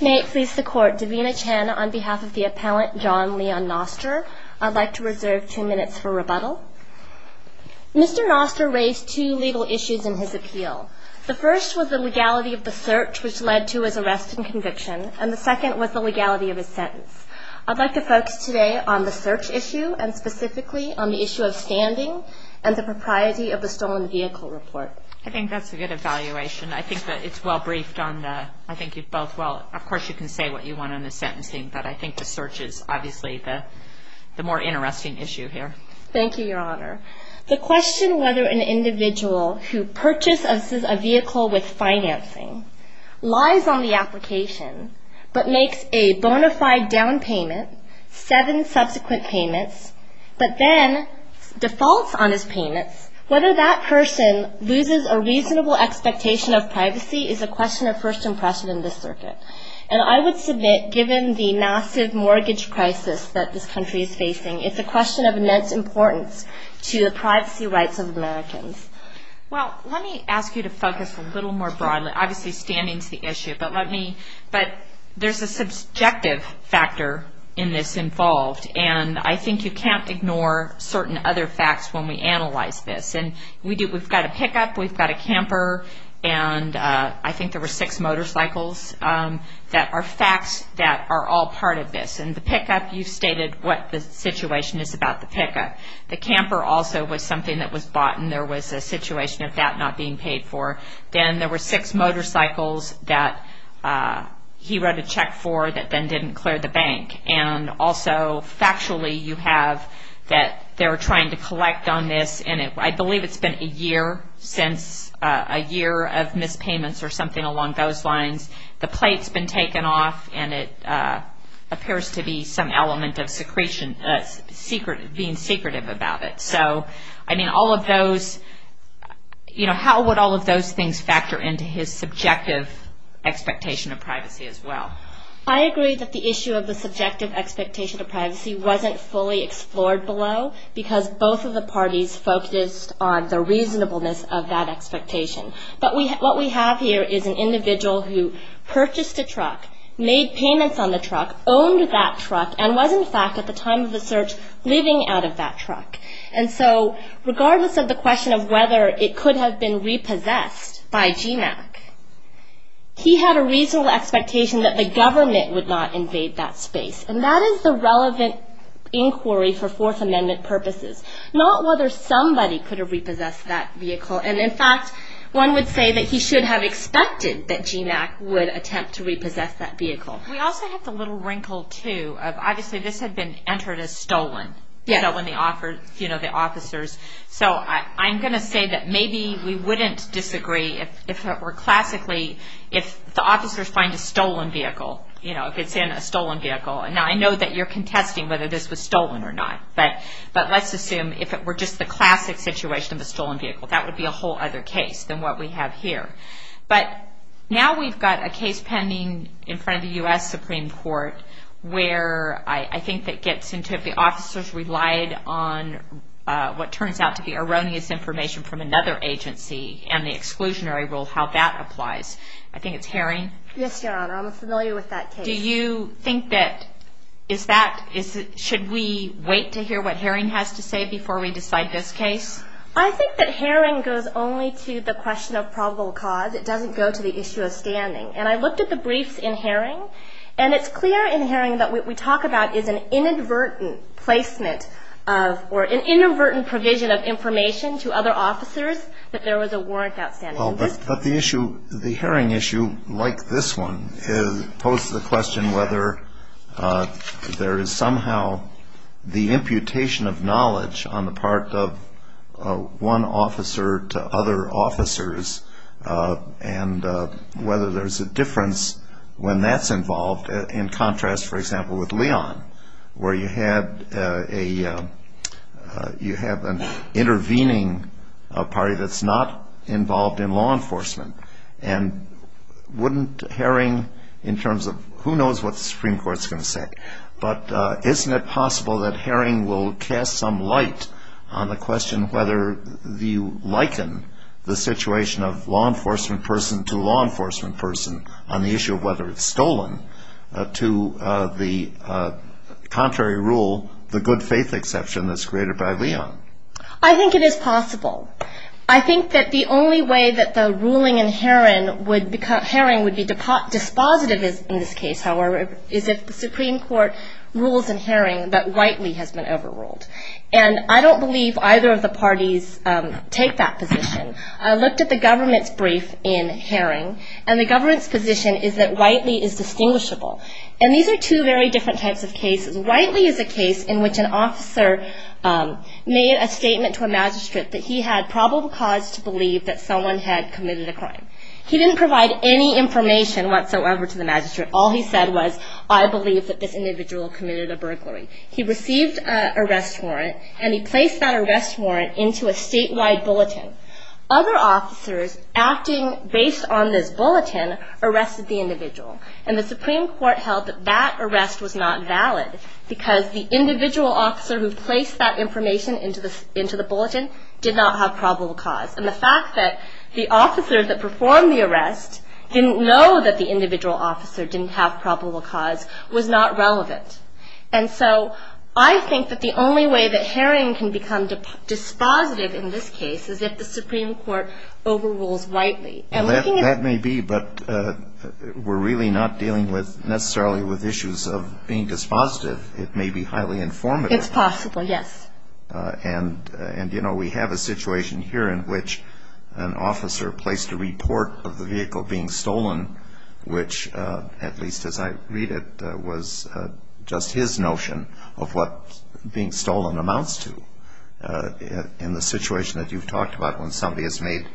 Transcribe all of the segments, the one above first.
May it please the court, Davina Chen on behalf of the appellant John Leon Noster, I'd like to reserve two minutes for rebuttal. Mr. Noster raised two legal issues in his appeal. The first was the legality of the search which led to his arrest and conviction, and the second was the legality of his sentence. I'd like to focus today on the search issue and specifically on the issue of standing and the propriety of the stolen vehicle report. I think that's a good evaluation. I think that it's well briefed on the, I think you both, well, of course you can say what you want on the sentencing, but I think the search is obviously the more interesting issue here. Thank you, Your Honor. The question whether an individual who purchases a vehicle with financing lies on the application but makes a bona fide down payment, seven subsequent payments, but then defaults on his payments, whether that person loses a reasonable expectation of privacy is a question of first impression in this circuit. And I would submit, given the massive mortgage crisis that this country is facing, it's a question of immense importance to the privacy rights of Americans. Well, let me ask you to focus a little more broadly. Obviously, standing is the issue, but let me, but there's a subjective factor in this involved, and I think you can't ignore certain other facts when we analyze this. And we do, we've got a pickup, we've got a camper, and I think there were six motorcycles that are facts that are all part of this. And the pickup, you've stated what the situation is about the pickup. The camper also was something that was bought, and there was a situation of that not being paid for. Then there were six motorcycles that he wrote a check for that then didn't clear the bank. And also, factually, you have that they were trying to collect on this, and I believe it's been a year since, a year of missed payments or something along those lines. The plate's been taken off, and it appears to be some element of secretive, being secretive about it. So, I mean, all of those, you know, how would all of those things factor into his subjective expectation of privacy as well? I agree that the issue of the subjective expectation of privacy wasn't fully explored below, because both of the parties focused on the reasonableness of that expectation. But what we have here is an individual who purchased a truck, made payments on the truck, owned that truck, and was, in fact, at the time of the search, living out of that truck. And so, regardless of the question of whether it could have been repossessed by GMAC, he had a reasonable expectation that the government would not invade that space. And that is the relevant inquiry for Fourth Amendment purposes, not whether somebody could have repossessed that vehicle. And, in fact, one would say that he should have expected that GMAC would attempt to repossess that vehicle. We also have the little wrinkle, too, of, obviously, this had been entered as stolen. Yes. You know, when they offered, you know, the officers. So, I'm going to say that maybe we wouldn't disagree if it were classically, if the officers find a stolen vehicle, you know, if it's in a stolen vehicle. And I know that you're contesting whether this was stolen or not. But let's assume if it were just the classic situation of a stolen vehicle, that would be a whole other case than what we have here. But now we've got a case pending in front of the U.S. Supreme Court where I think that gets into if the officers relied on what turns out to be erroneous information from another agency and the exclusionary rule, how that applies. I think it's Herring. Yes, Your Honor. I'm familiar with that case. Do you think that is that, should we wait to hear what Herring has to say before we decide this case? I think that Herring goes only to the question of probable cause. It doesn't go to the issue of standing. And I looked at the briefs in Herring, and it's clear in Herring that what we talk about is an inadvertent placement of, or an inadvertent provision of information to other officers that there was a warrant outstanding. But the issue, the Herring issue, like this one, poses the question whether there is somehow the imputation of knowledge on the part of one officer to other officers and whether there's a difference when that's involved in contrast, for example, with Leon, where you have an intervening party that's not involved in law enforcement. And wouldn't Herring, in terms of who knows what the Supreme Court's going to say, but isn't it possible that Herring will cast some light on the question whether you liken the situation of law enforcement person on the issue of whether it's stolen to the contrary rule, the good faith exception that's created by Leon? I think it is possible. I think that the only way that the ruling in Herring would be dispositive in this case, however, is if the Supreme Court rules in Herring that Whiteley has been overruled. And I don't believe either of the parties take that position. I looked at the government's brief in Herring, and the government's position is that Whiteley is distinguishable. And these are two very different types of cases. Whiteley is a case in which an officer made a statement to a magistrate that he had probable cause to believe that someone had committed a crime. He didn't provide any information whatsoever to the magistrate. All he said was, I believe that this individual committed a burglary. He received an arrest warrant, and he placed that arrest warrant into a statewide bulletin. Other officers acting based on this bulletin arrested the individual. And the Supreme Court held that that arrest was not valid because the individual officer who placed that information into the bulletin did not have probable cause. And the fact that the officer that performed the arrest didn't know that the individual officer didn't have probable cause was not relevant. And so I think that the only way that Herring can become dispositive in this case is if the Supreme Court overrules Whiteley. That may be, but we're really not dealing necessarily with issues of being dispositive. It may be highly informative. It's possible, yes. And, you know, we have a situation here in which an officer placed a report of the vehicle being stolen, which at least as I read it was just his notion of what being stolen amounts to in the situation that you've talked about when somebody has made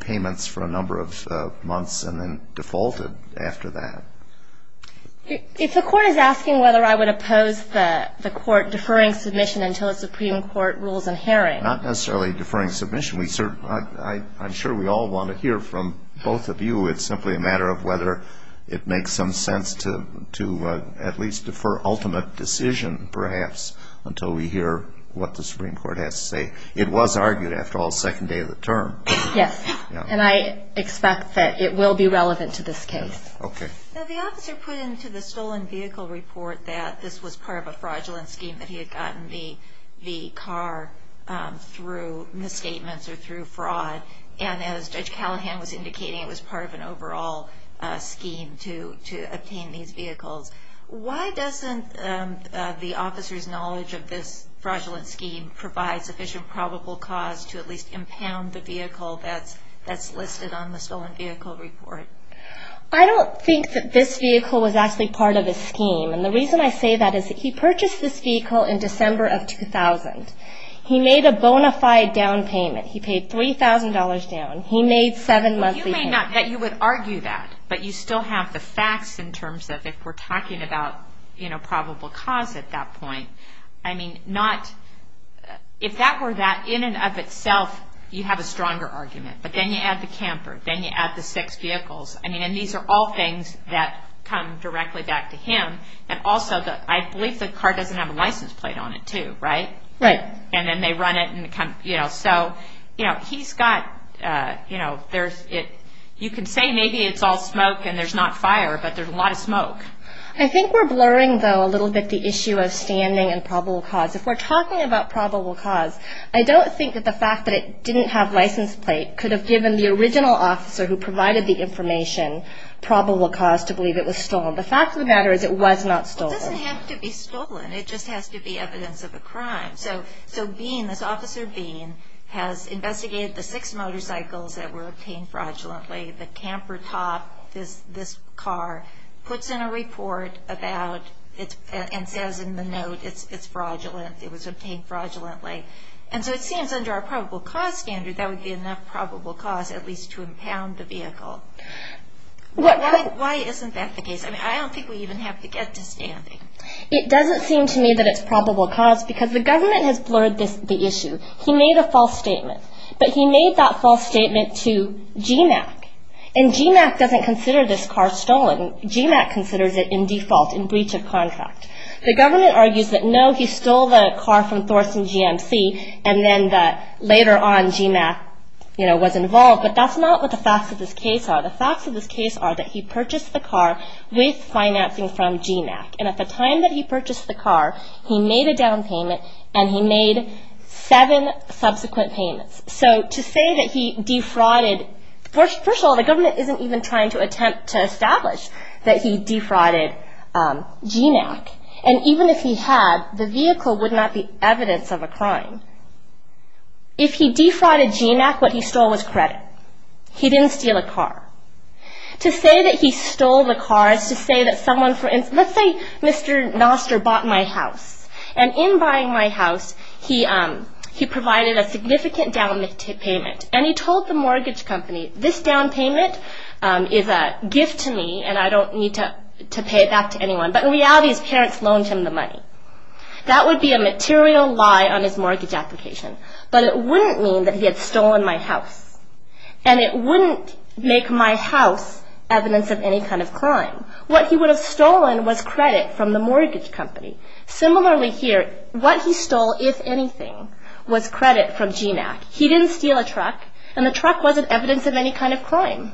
payments for a number of months and then defaulted after that. If the Court is asking whether I would oppose the Court deferring submission until a Supreme Court rule is in Herring. Not necessarily deferring submission. I'm sure we all want to hear from both of you. It's simply a matter of whether it makes some sense to at least defer ultimate decision perhaps until we hear what the Supreme Court has to say. It was argued after all second day of the term. Yes. And I expect that it will be relevant to this case. Okay. The officer put into the stolen vehicle report that this was part of a fraudulent scheme, that he had gotten the car through misstatements or through fraud. And as Judge Callahan was indicating, it was part of an overall scheme to obtain these vehicles. Why doesn't the officer's knowledge of this fraudulent scheme provide sufficient probable cause to at least impound the vehicle that's listed on the stolen vehicle report? I don't think that this vehicle was actually part of his scheme. And the reason I say that is that he purchased this vehicle in December of 2000. He made a bona fide down payment. He paid $3,000 down. He made seven months' leave. You may not, you would argue that, but you still have the facts in terms of if we're talking about, you know, probable cause at that point. I mean, not, if that were that, in and of itself, you'd have a stronger argument. But then you add the camper. Then you add the six vehicles. I mean, and these are all things that come directly back to him. And also, I believe the car doesn't have a license plate on it, too, right? Right. And then they run it and, you know, so, you know, he's got, you know, there's, you can say maybe it's all smoke and there's not fire, but there's a lot of smoke. I think we're blurring, though, a little bit the issue of standing and probable cause. If we're talking about probable cause, I don't think that the fact that it didn't have a license plate could have given the original officer who provided the information probable cause to believe it was stolen. The fact of the matter is it was not stolen. It doesn't have to be stolen. It just has to be evidence of a crime. So Bean, this Officer Bean, has investigated the six motorcycles that were obtained fraudulently. The camper top, this car, puts in a report about, and says in the note, it's fraudulent. It was obtained fraudulently. And so it seems under our probable cause standard, that would be enough probable cause at least to impound the vehicle. Why isn't that the case? I mean, I don't think we even have to get to standing. It doesn't seem to me that it's probable cause because the government has blurred the issue. He made a false statement. But he made that false statement to GMAC, and GMAC doesn't consider this car stolen. GMAC considers it in default, in breach of contract. The government argues that, no, he stole the car from Thorson GMC, and then later on GMAC was involved. But that's not what the facts of this case are. The facts of this case are that he purchased the car with financing from GMAC. And at the time that he purchased the car, he made a down payment, and he made seven subsequent payments. So to say that he defrauded, first of all, the government isn't even trying to attempt to establish that he defrauded GMAC. And even if he had, the vehicle would not be evidence of a crime. If he defrauded GMAC, what he stole was credit. He didn't steal a car. To say that he stole the car is to say that someone, for instance, let's say Mr. Noster bought my house. And in buying my house, he provided a significant down payment. And he told the mortgage company, this down payment is a gift to me, and I don't need to pay it back to anyone. But in reality, his parents loaned him the money. That would be a material lie on his mortgage application. But it wouldn't mean that he had stolen my house. And it wouldn't make my house evidence of any kind of crime. What he would have stolen was credit from the mortgage company. Similarly here, what he stole, if anything, was credit from GMAC. He didn't steal a truck, and the truck wasn't evidence of any kind of crime.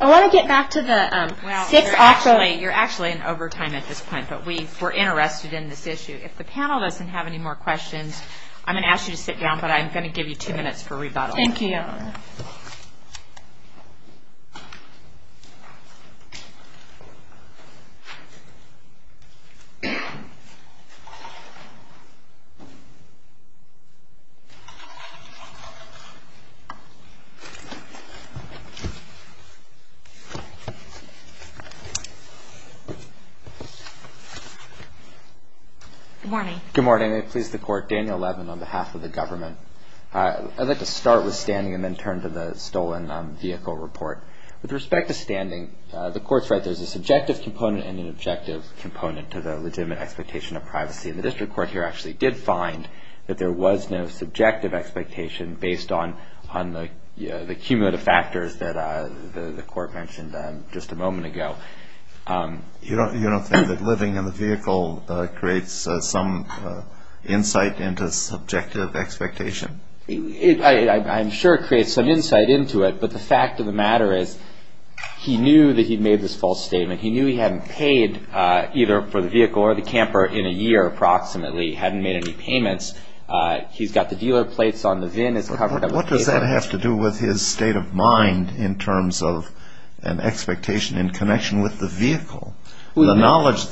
I want to get back to the six options. You're actually in overtime at this point, but we're interested in this issue. If the panel doesn't have any more questions, I'm going to ask you to sit down, but I'm going to give you two minutes for rebuttal. Thank you. Good morning. Good morning. May it please the Court, Daniel Levin on behalf of the government. I'd like to start with standing and then turn to the stolen vehicle report. With respect to standing, the Court's right, there's a subjective component and an objective component to the legitimate expectation of privacy. And the District Court here actually did find that there was no subjective expectation based on the cumulative factors that the Court mentioned just a moment ago. You don't think that living in the vehicle creates some insight into subjective expectation? I'm sure it creates some insight into it, but the fact of the matter is he knew that he made this false statement. He knew he hadn't paid either for the vehicle or the camper in a year approximately, hadn't made any payments. He's got the dealer plates on, the VIN is covered. What does that have to do with his state of mind in terms of an expectation in connection with the vehicle? The knowledge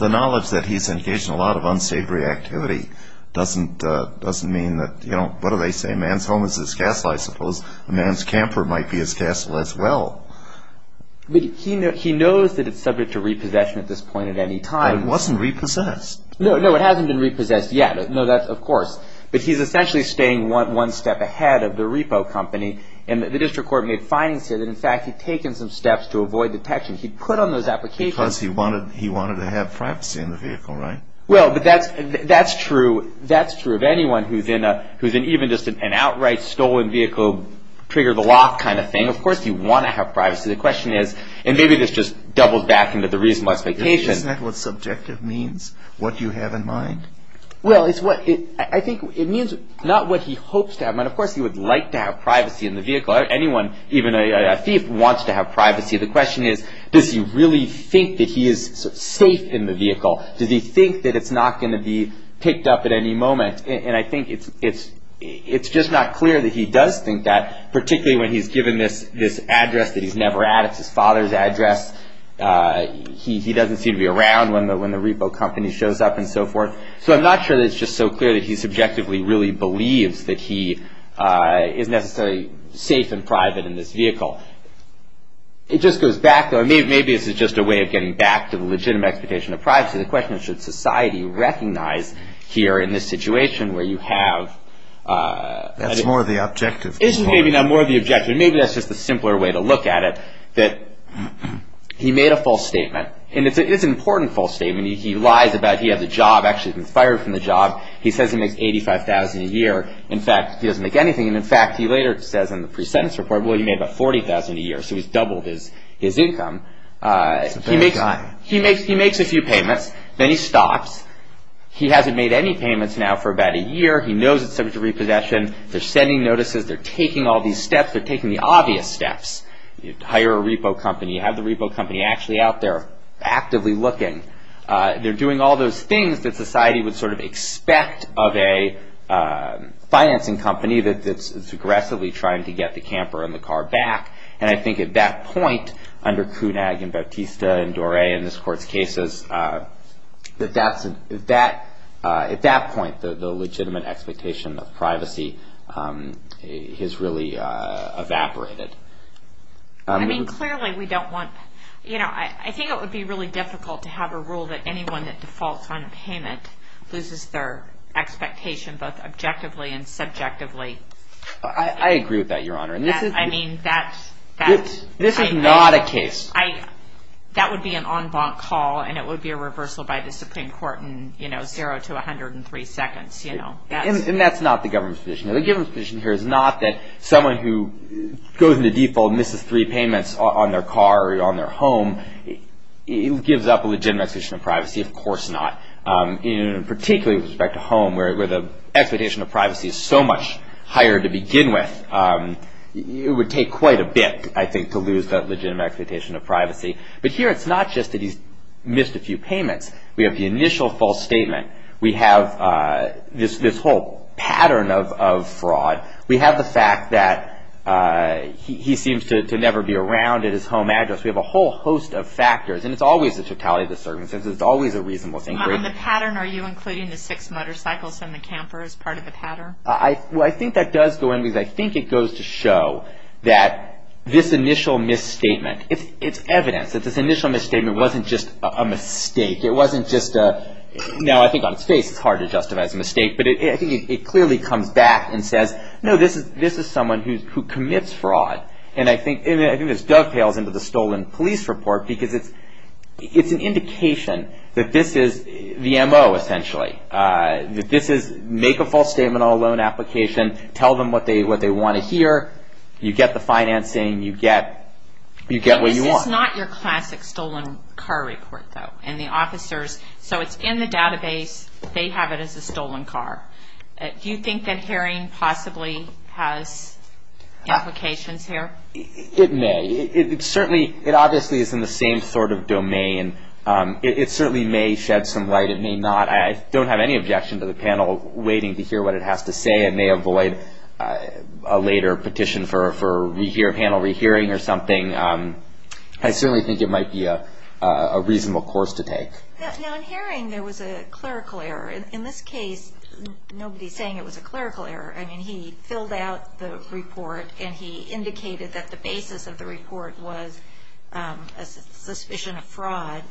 that he's engaged in a lot of unsavory activity doesn't mean that, you know, what do they say? A man's home is his castle, I suppose. A man's camper might be his castle as well. But he knows that it's subject to repossession at this point at any time. But it wasn't repossessed. No, no, it hasn't been repossessed yet. No, that's, of course. But he's essentially staying one step ahead of the repo company. And the District Court made findings here that in fact he'd taken some steps to avoid detection. He'd put on those applications. Because he wanted to have privacy in the vehicle, right? Well, but that's true. That's true of anyone who's in even just an outright stolen vehicle, trigger the lock kind of thing. Of course, you want to have privacy. The question is, and maybe this just doubles back into the reasonable expectation. Isn't that what subjective means, what you have in mind? Well, it's what I think it means, not what he hopes to have. Of course, he would like to have privacy in the vehicle. Anyone, even a thief, wants to have privacy. The question is, does he really think that he is safe in the vehicle? Does he think that it's not going to be picked up at any moment? And I think it's just not clear that he does think that, particularly when he's given this address that he's never had. It's his father's address. He doesn't seem to be around when the repo company shows up and so forth. So I'm not sure that it's just so clear that he subjectively really believes that he is necessarily safe and private in this vehicle. It just goes back, though. Maybe this is just a way of getting back to the legitimate expectation of privacy. The question is, should society recognize here in this situation where you have- That's more of the objective. Maybe not more of the objective. Maybe that's just a simpler way to look at it, that he made a false statement. And it's an important false statement. He lies about he has a job, actually been fired from the job. He says he makes $85,000 a year. In fact, he doesn't make anything. And in fact, he later says in the pre-sentence report, well, he made about $40,000 a year. So he's doubled his income. He's a bad guy. He makes a few payments. Then he stops. He hasn't made any payments now for about a year. He knows it's subject to repossession. They're sending notices. They're taking all these steps. They're taking the obvious steps. You hire a repo company. You have the repo company actually out there actively looking. They're doing all those things that society would sort of expect of a financing company that's aggressively trying to get the camper and the car back. And I think at that point, under Kunag and Bautista and Doré in this court's cases, at that point, the legitimate expectation of privacy has really evaporated. I mean, clearly, we don't want – I think it would be really difficult to have a rule that anyone that defaults on a payment loses their expectation both objectively and subjectively. I agree with that, Your Honor. I mean, that's – This is not a case. That would be an en banc call, and it would be a reversal by the Supreme Court in 0 to 103 seconds. And that's not the government's position. The government's position here is not that someone who goes into default and misses three payments on their car or on their home gives up a legitimate expectation of privacy. Of course not, particularly with respect to home where the expectation of privacy is so much higher to begin with. It would take quite a bit, I think, to lose that legitimate expectation of privacy. But here it's not just that he's missed a few payments. We have the initial false statement. We have this whole pattern of fraud. We have the fact that he seems to never be around at his home address. We have a whole host of factors, and it's always the totality of the circumstances. It's always a reasonable thing. On the pattern, are you including the six motorcycles and the camper as part of the pattern? Well, I think that does go in because I think it goes to show that this initial misstatement, it's evidence that this initial misstatement wasn't just a mistake. It wasn't just a, no, I think on its face it's hard to justify as a mistake, but I think it clearly comes back and says, no, this is someone who commits fraud. And I think this dovetails into the stolen police report because it's an indication that this is the M.O., essentially. This is make a false statement on a loan application, tell them what they want to hear. You get the financing. You get what you want. This is not your classic stolen car report, though, and the officers, so it's in the database. They have it as a stolen car. Do you think that herring possibly has implications here? It may. It certainly, it obviously is in the same sort of domain. It certainly may shed some light. It may not. I don't have any objection to the panel waiting to hear what it has to say. It may avoid a later petition for panel rehearing or something. I certainly think it might be a reasonable course to take. Now, in herring there was a clerical error. In this case, nobody's saying it was a clerical error. I mean, he filled out the report, and he indicated that the basis of the report was a suspicion of fraud.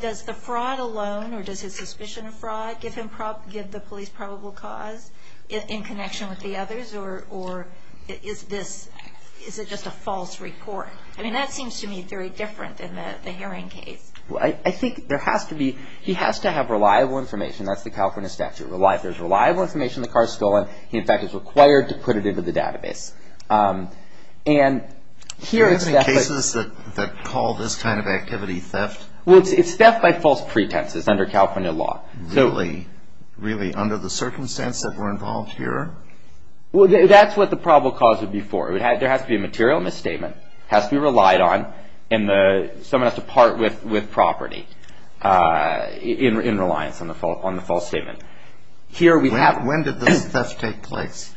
Does the fraud alone or does his suspicion of fraud give the police probable cause in connection with the others, or is it just a false report? I mean, that seems to me very different in the herring case. Well, I think there has to be, he has to have reliable information. That's the California statute. If there's reliable information the car's stolen, he, in fact, is required to put it into the database. Do you have any cases that call this kind of activity theft? Well, it's theft by false pretenses under California law. Really? Really, under the circumstance that we're involved here? Well, that's what the probable cause would be for. There has to be a material misstatement. It has to be relied on, and someone has to part with property in reliance on the false statement. When did this theft take place?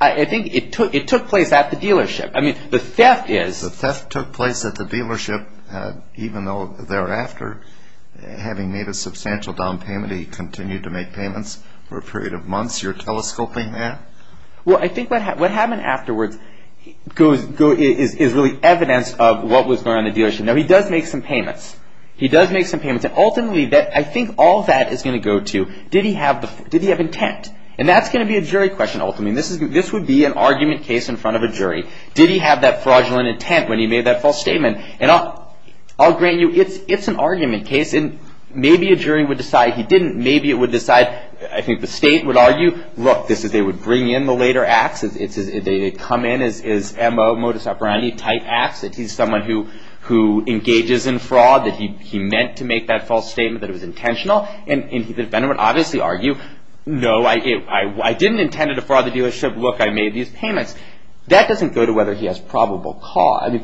I think it took place at the dealership. I mean, the theft is… The theft took place at the dealership, even though thereafter, having made a substantial down payment, he continued to make payments for a period of months. You're telescoping that? Well, I think what happened afterwards is really evidence of what was going on in the dealership. Now, he does make some payments. He does make some payments, and ultimately, I think all that is going to go to, did he have intent? And that's going to be a jury question, ultimately. This would be an argument case in front of a jury. Did he have that fraudulent intent when he made that false statement? And I'll grant you, it's an argument case, and maybe a jury would decide he didn't. Maybe it would decide, I think the state would argue, look, they would bring in the later acts. They come in as MO, modus operandi type acts. He's someone who engages in fraud, that he meant to make that false statement, that it was intentional. And the defendant would obviously argue, no, I didn't intend it to fraud the dealership. Look, I made these payments. That doesn't go to whether he has probable cause.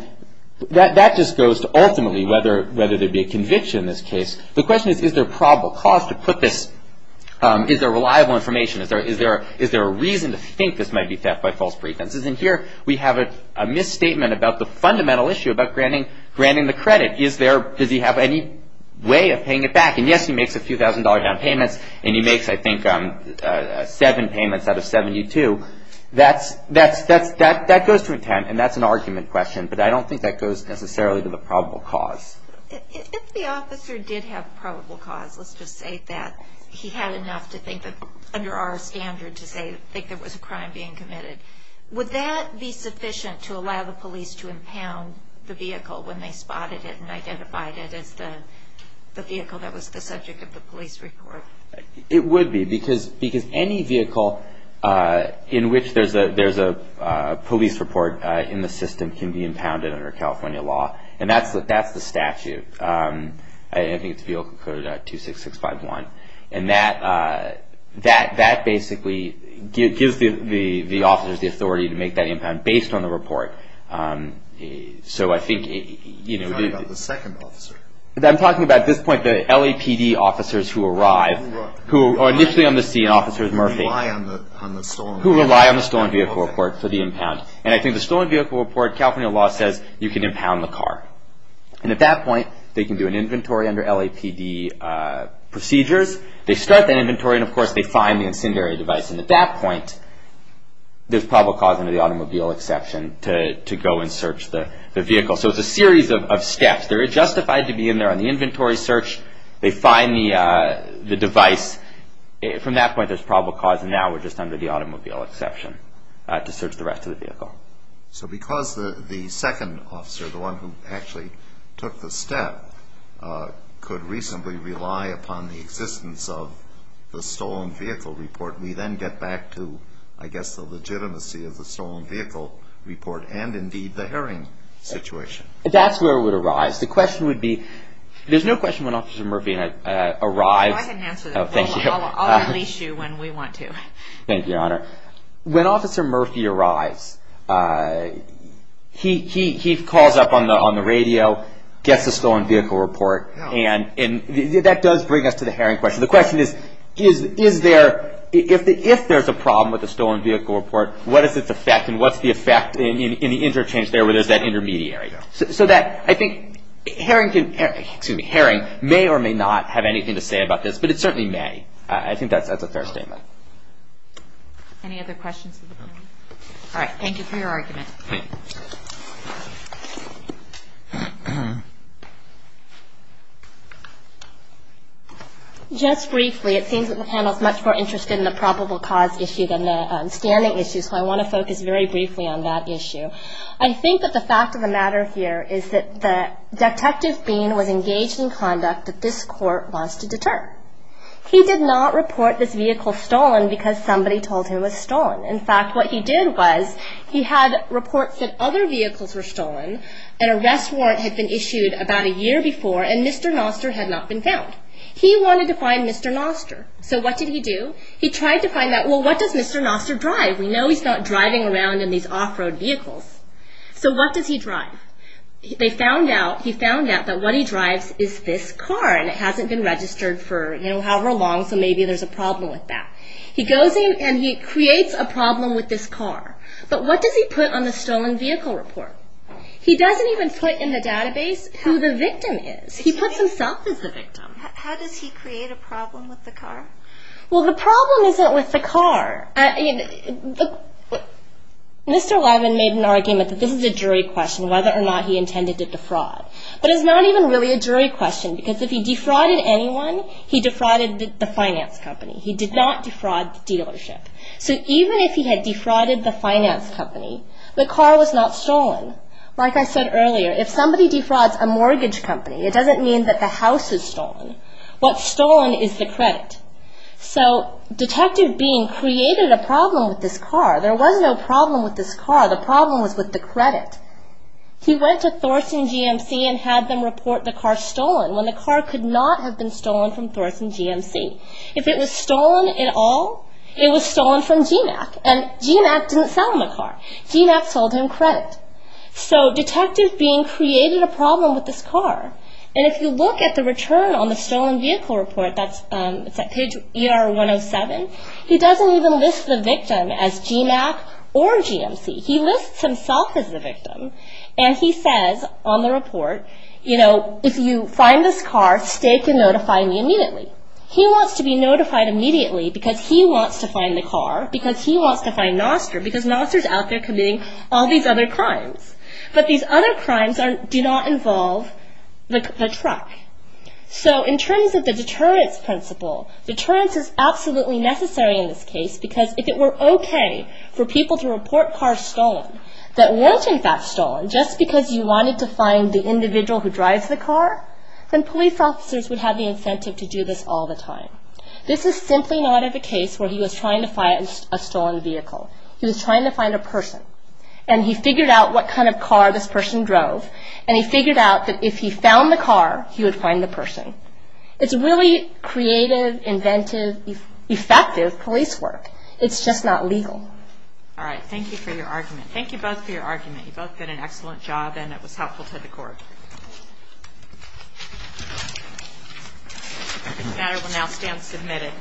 That just goes to ultimately whether there would be a conviction in this case. The question is, is there probable cause to put this? Is there reliable information? Is there a reason to think this might be theft by false pretences? And here, we have a misstatement about the fundamental issue about granting the credit. Does he have any way of paying it back? And, yes, he makes a few thousand dollar down payments, and he makes, I think, seven payments out of 72. That goes to intent, and that's an argument question, but I don't think that goes necessarily to the probable cause. If the officer did have probable cause, let's just say that he had enough to think that, under our standard, to think there was a crime being committed, would that be sufficient to allow the police to impound the vehicle when they spotted it and identified it as the vehicle that was the subject of the police report? It would be, because any vehicle in which there's a police report in the system can be impounded under California law, and that's the statute. I think it's Vehicle Code 26651, and that basically gives the officers the authority to make that impound based on the report. You're talking about the second officer? I'm talking about, at this point, the LAPD officers who arrive, who are initially on the scene, Officers Murphy, who rely on the stolen vehicle report for the impound, and I think the stolen vehicle report, California law says you can impound the car, and at that point, they can do an inventory under LAPD procedures. They start that inventory, and, of course, they find the incendiary device, and at that point, there's probable cause under the automobile exception to go and search the vehicle. So it's a series of steps. They're justified to be in there on the inventory search. They find the device. From that point, there's probable cause, and now we're just under the automobile exception to search the rest of the vehicle. So because the second officer, the one who actually took the step, could reasonably rely upon the existence of the stolen vehicle report, we then get back to, I guess, the legitimacy of the stolen vehicle report and, indeed, the herring situation. That's where it would arise. The question would be, there's no question when Officer Murphy arrives. I can answer that. Thank you. I'll unleash you when we want to. Thank you, Your Honor. When Officer Murphy arrives, he calls up on the radio, gets the stolen vehicle report, and that does bring us to the herring question. So the question is, if there's a problem with the stolen vehicle report, what is its effect, and what's the effect in the interchange there where there's that intermediary? So I think herring may or may not have anything to say about this, but it certainly may. I think that's a fair statement. Any other questions? All right. Thank you for your argument. Thank you. Just briefly, it seems that the panel is much more interested in the probable cause issue than the standing issue, so I want to focus very briefly on that issue. I think that the fact of the matter here is that Detective Bean was engaged in conduct that this court wants to deter. He did not report this vehicle stolen because somebody told him it was stolen. In fact, what he did was he had reports that other vehicles were stolen, an arrest warrant had been issued about a year before, and Mr. Noster had not been found. He wanted to find Mr. Noster. So what did he do? He tried to find out, well, what does Mr. Noster drive? We know he's not driving around in these off-road vehicles. So what does he drive? They found out, he found out that what he drives is this car, and it hasn't been registered for, you know, however long, so maybe there's a problem with that. He goes in and he creates a problem with this car. But what does he put on the stolen vehicle report? He doesn't even put in the database who the victim is. He puts himself as the victim. How does he create a problem with the car? Well, the problem isn't with the car. Mr. Levin made an argument that this is a jury question, whether or not he intended to defraud, but it's not even really a jury question because if he defrauded anyone, he defrauded the finance company. He did not defraud the dealership. So even if he had defrauded the finance company, the car was not stolen. Like I said earlier, if somebody defrauds a mortgage company, it doesn't mean that the house is stolen. What's stolen is the credit. So Detective Bean created a problem with this car. There was no problem with this car. The problem was with the credit. He went to Thorson GMC and had them report the car stolen when the car could not have been stolen from Thorson GMC. If it was stolen at all, it was stolen from GMAC. And GMAC didn't sell him the car. GMAC sold him credit. So Detective Bean created a problem with this car. And if you look at the return on the stolen vehicle report, it's at page ER107, he doesn't even list the victim as GMAC or GMC. He lists himself as the victim. And he says on the report, you know, if you find this car, stake and notify me immediately. He wants to be notified immediately because he wants to find the car, because he wants to find Nostra, because Nostra is out there committing all these other crimes. But these other crimes do not involve the truck. So in terms of the deterrence principle, deterrence is absolutely necessary in this case because if it were okay for people to report cars stolen, that weren't in fact stolen just because you wanted to find the individual who drives the car, then police officers would have the incentive to do this all the time. This is simply not of a case where he was trying to find a stolen vehicle. He was trying to find a person. And he figured out what kind of car this person drove. And he figured out that if he found the car, he would find the person. It's really creative, inventive, effective police work. It's just not legal. Thank you for your argument. Thank you both for your argument. You both did an excellent job, and it was helpful to the court. This matter will now stand submitted.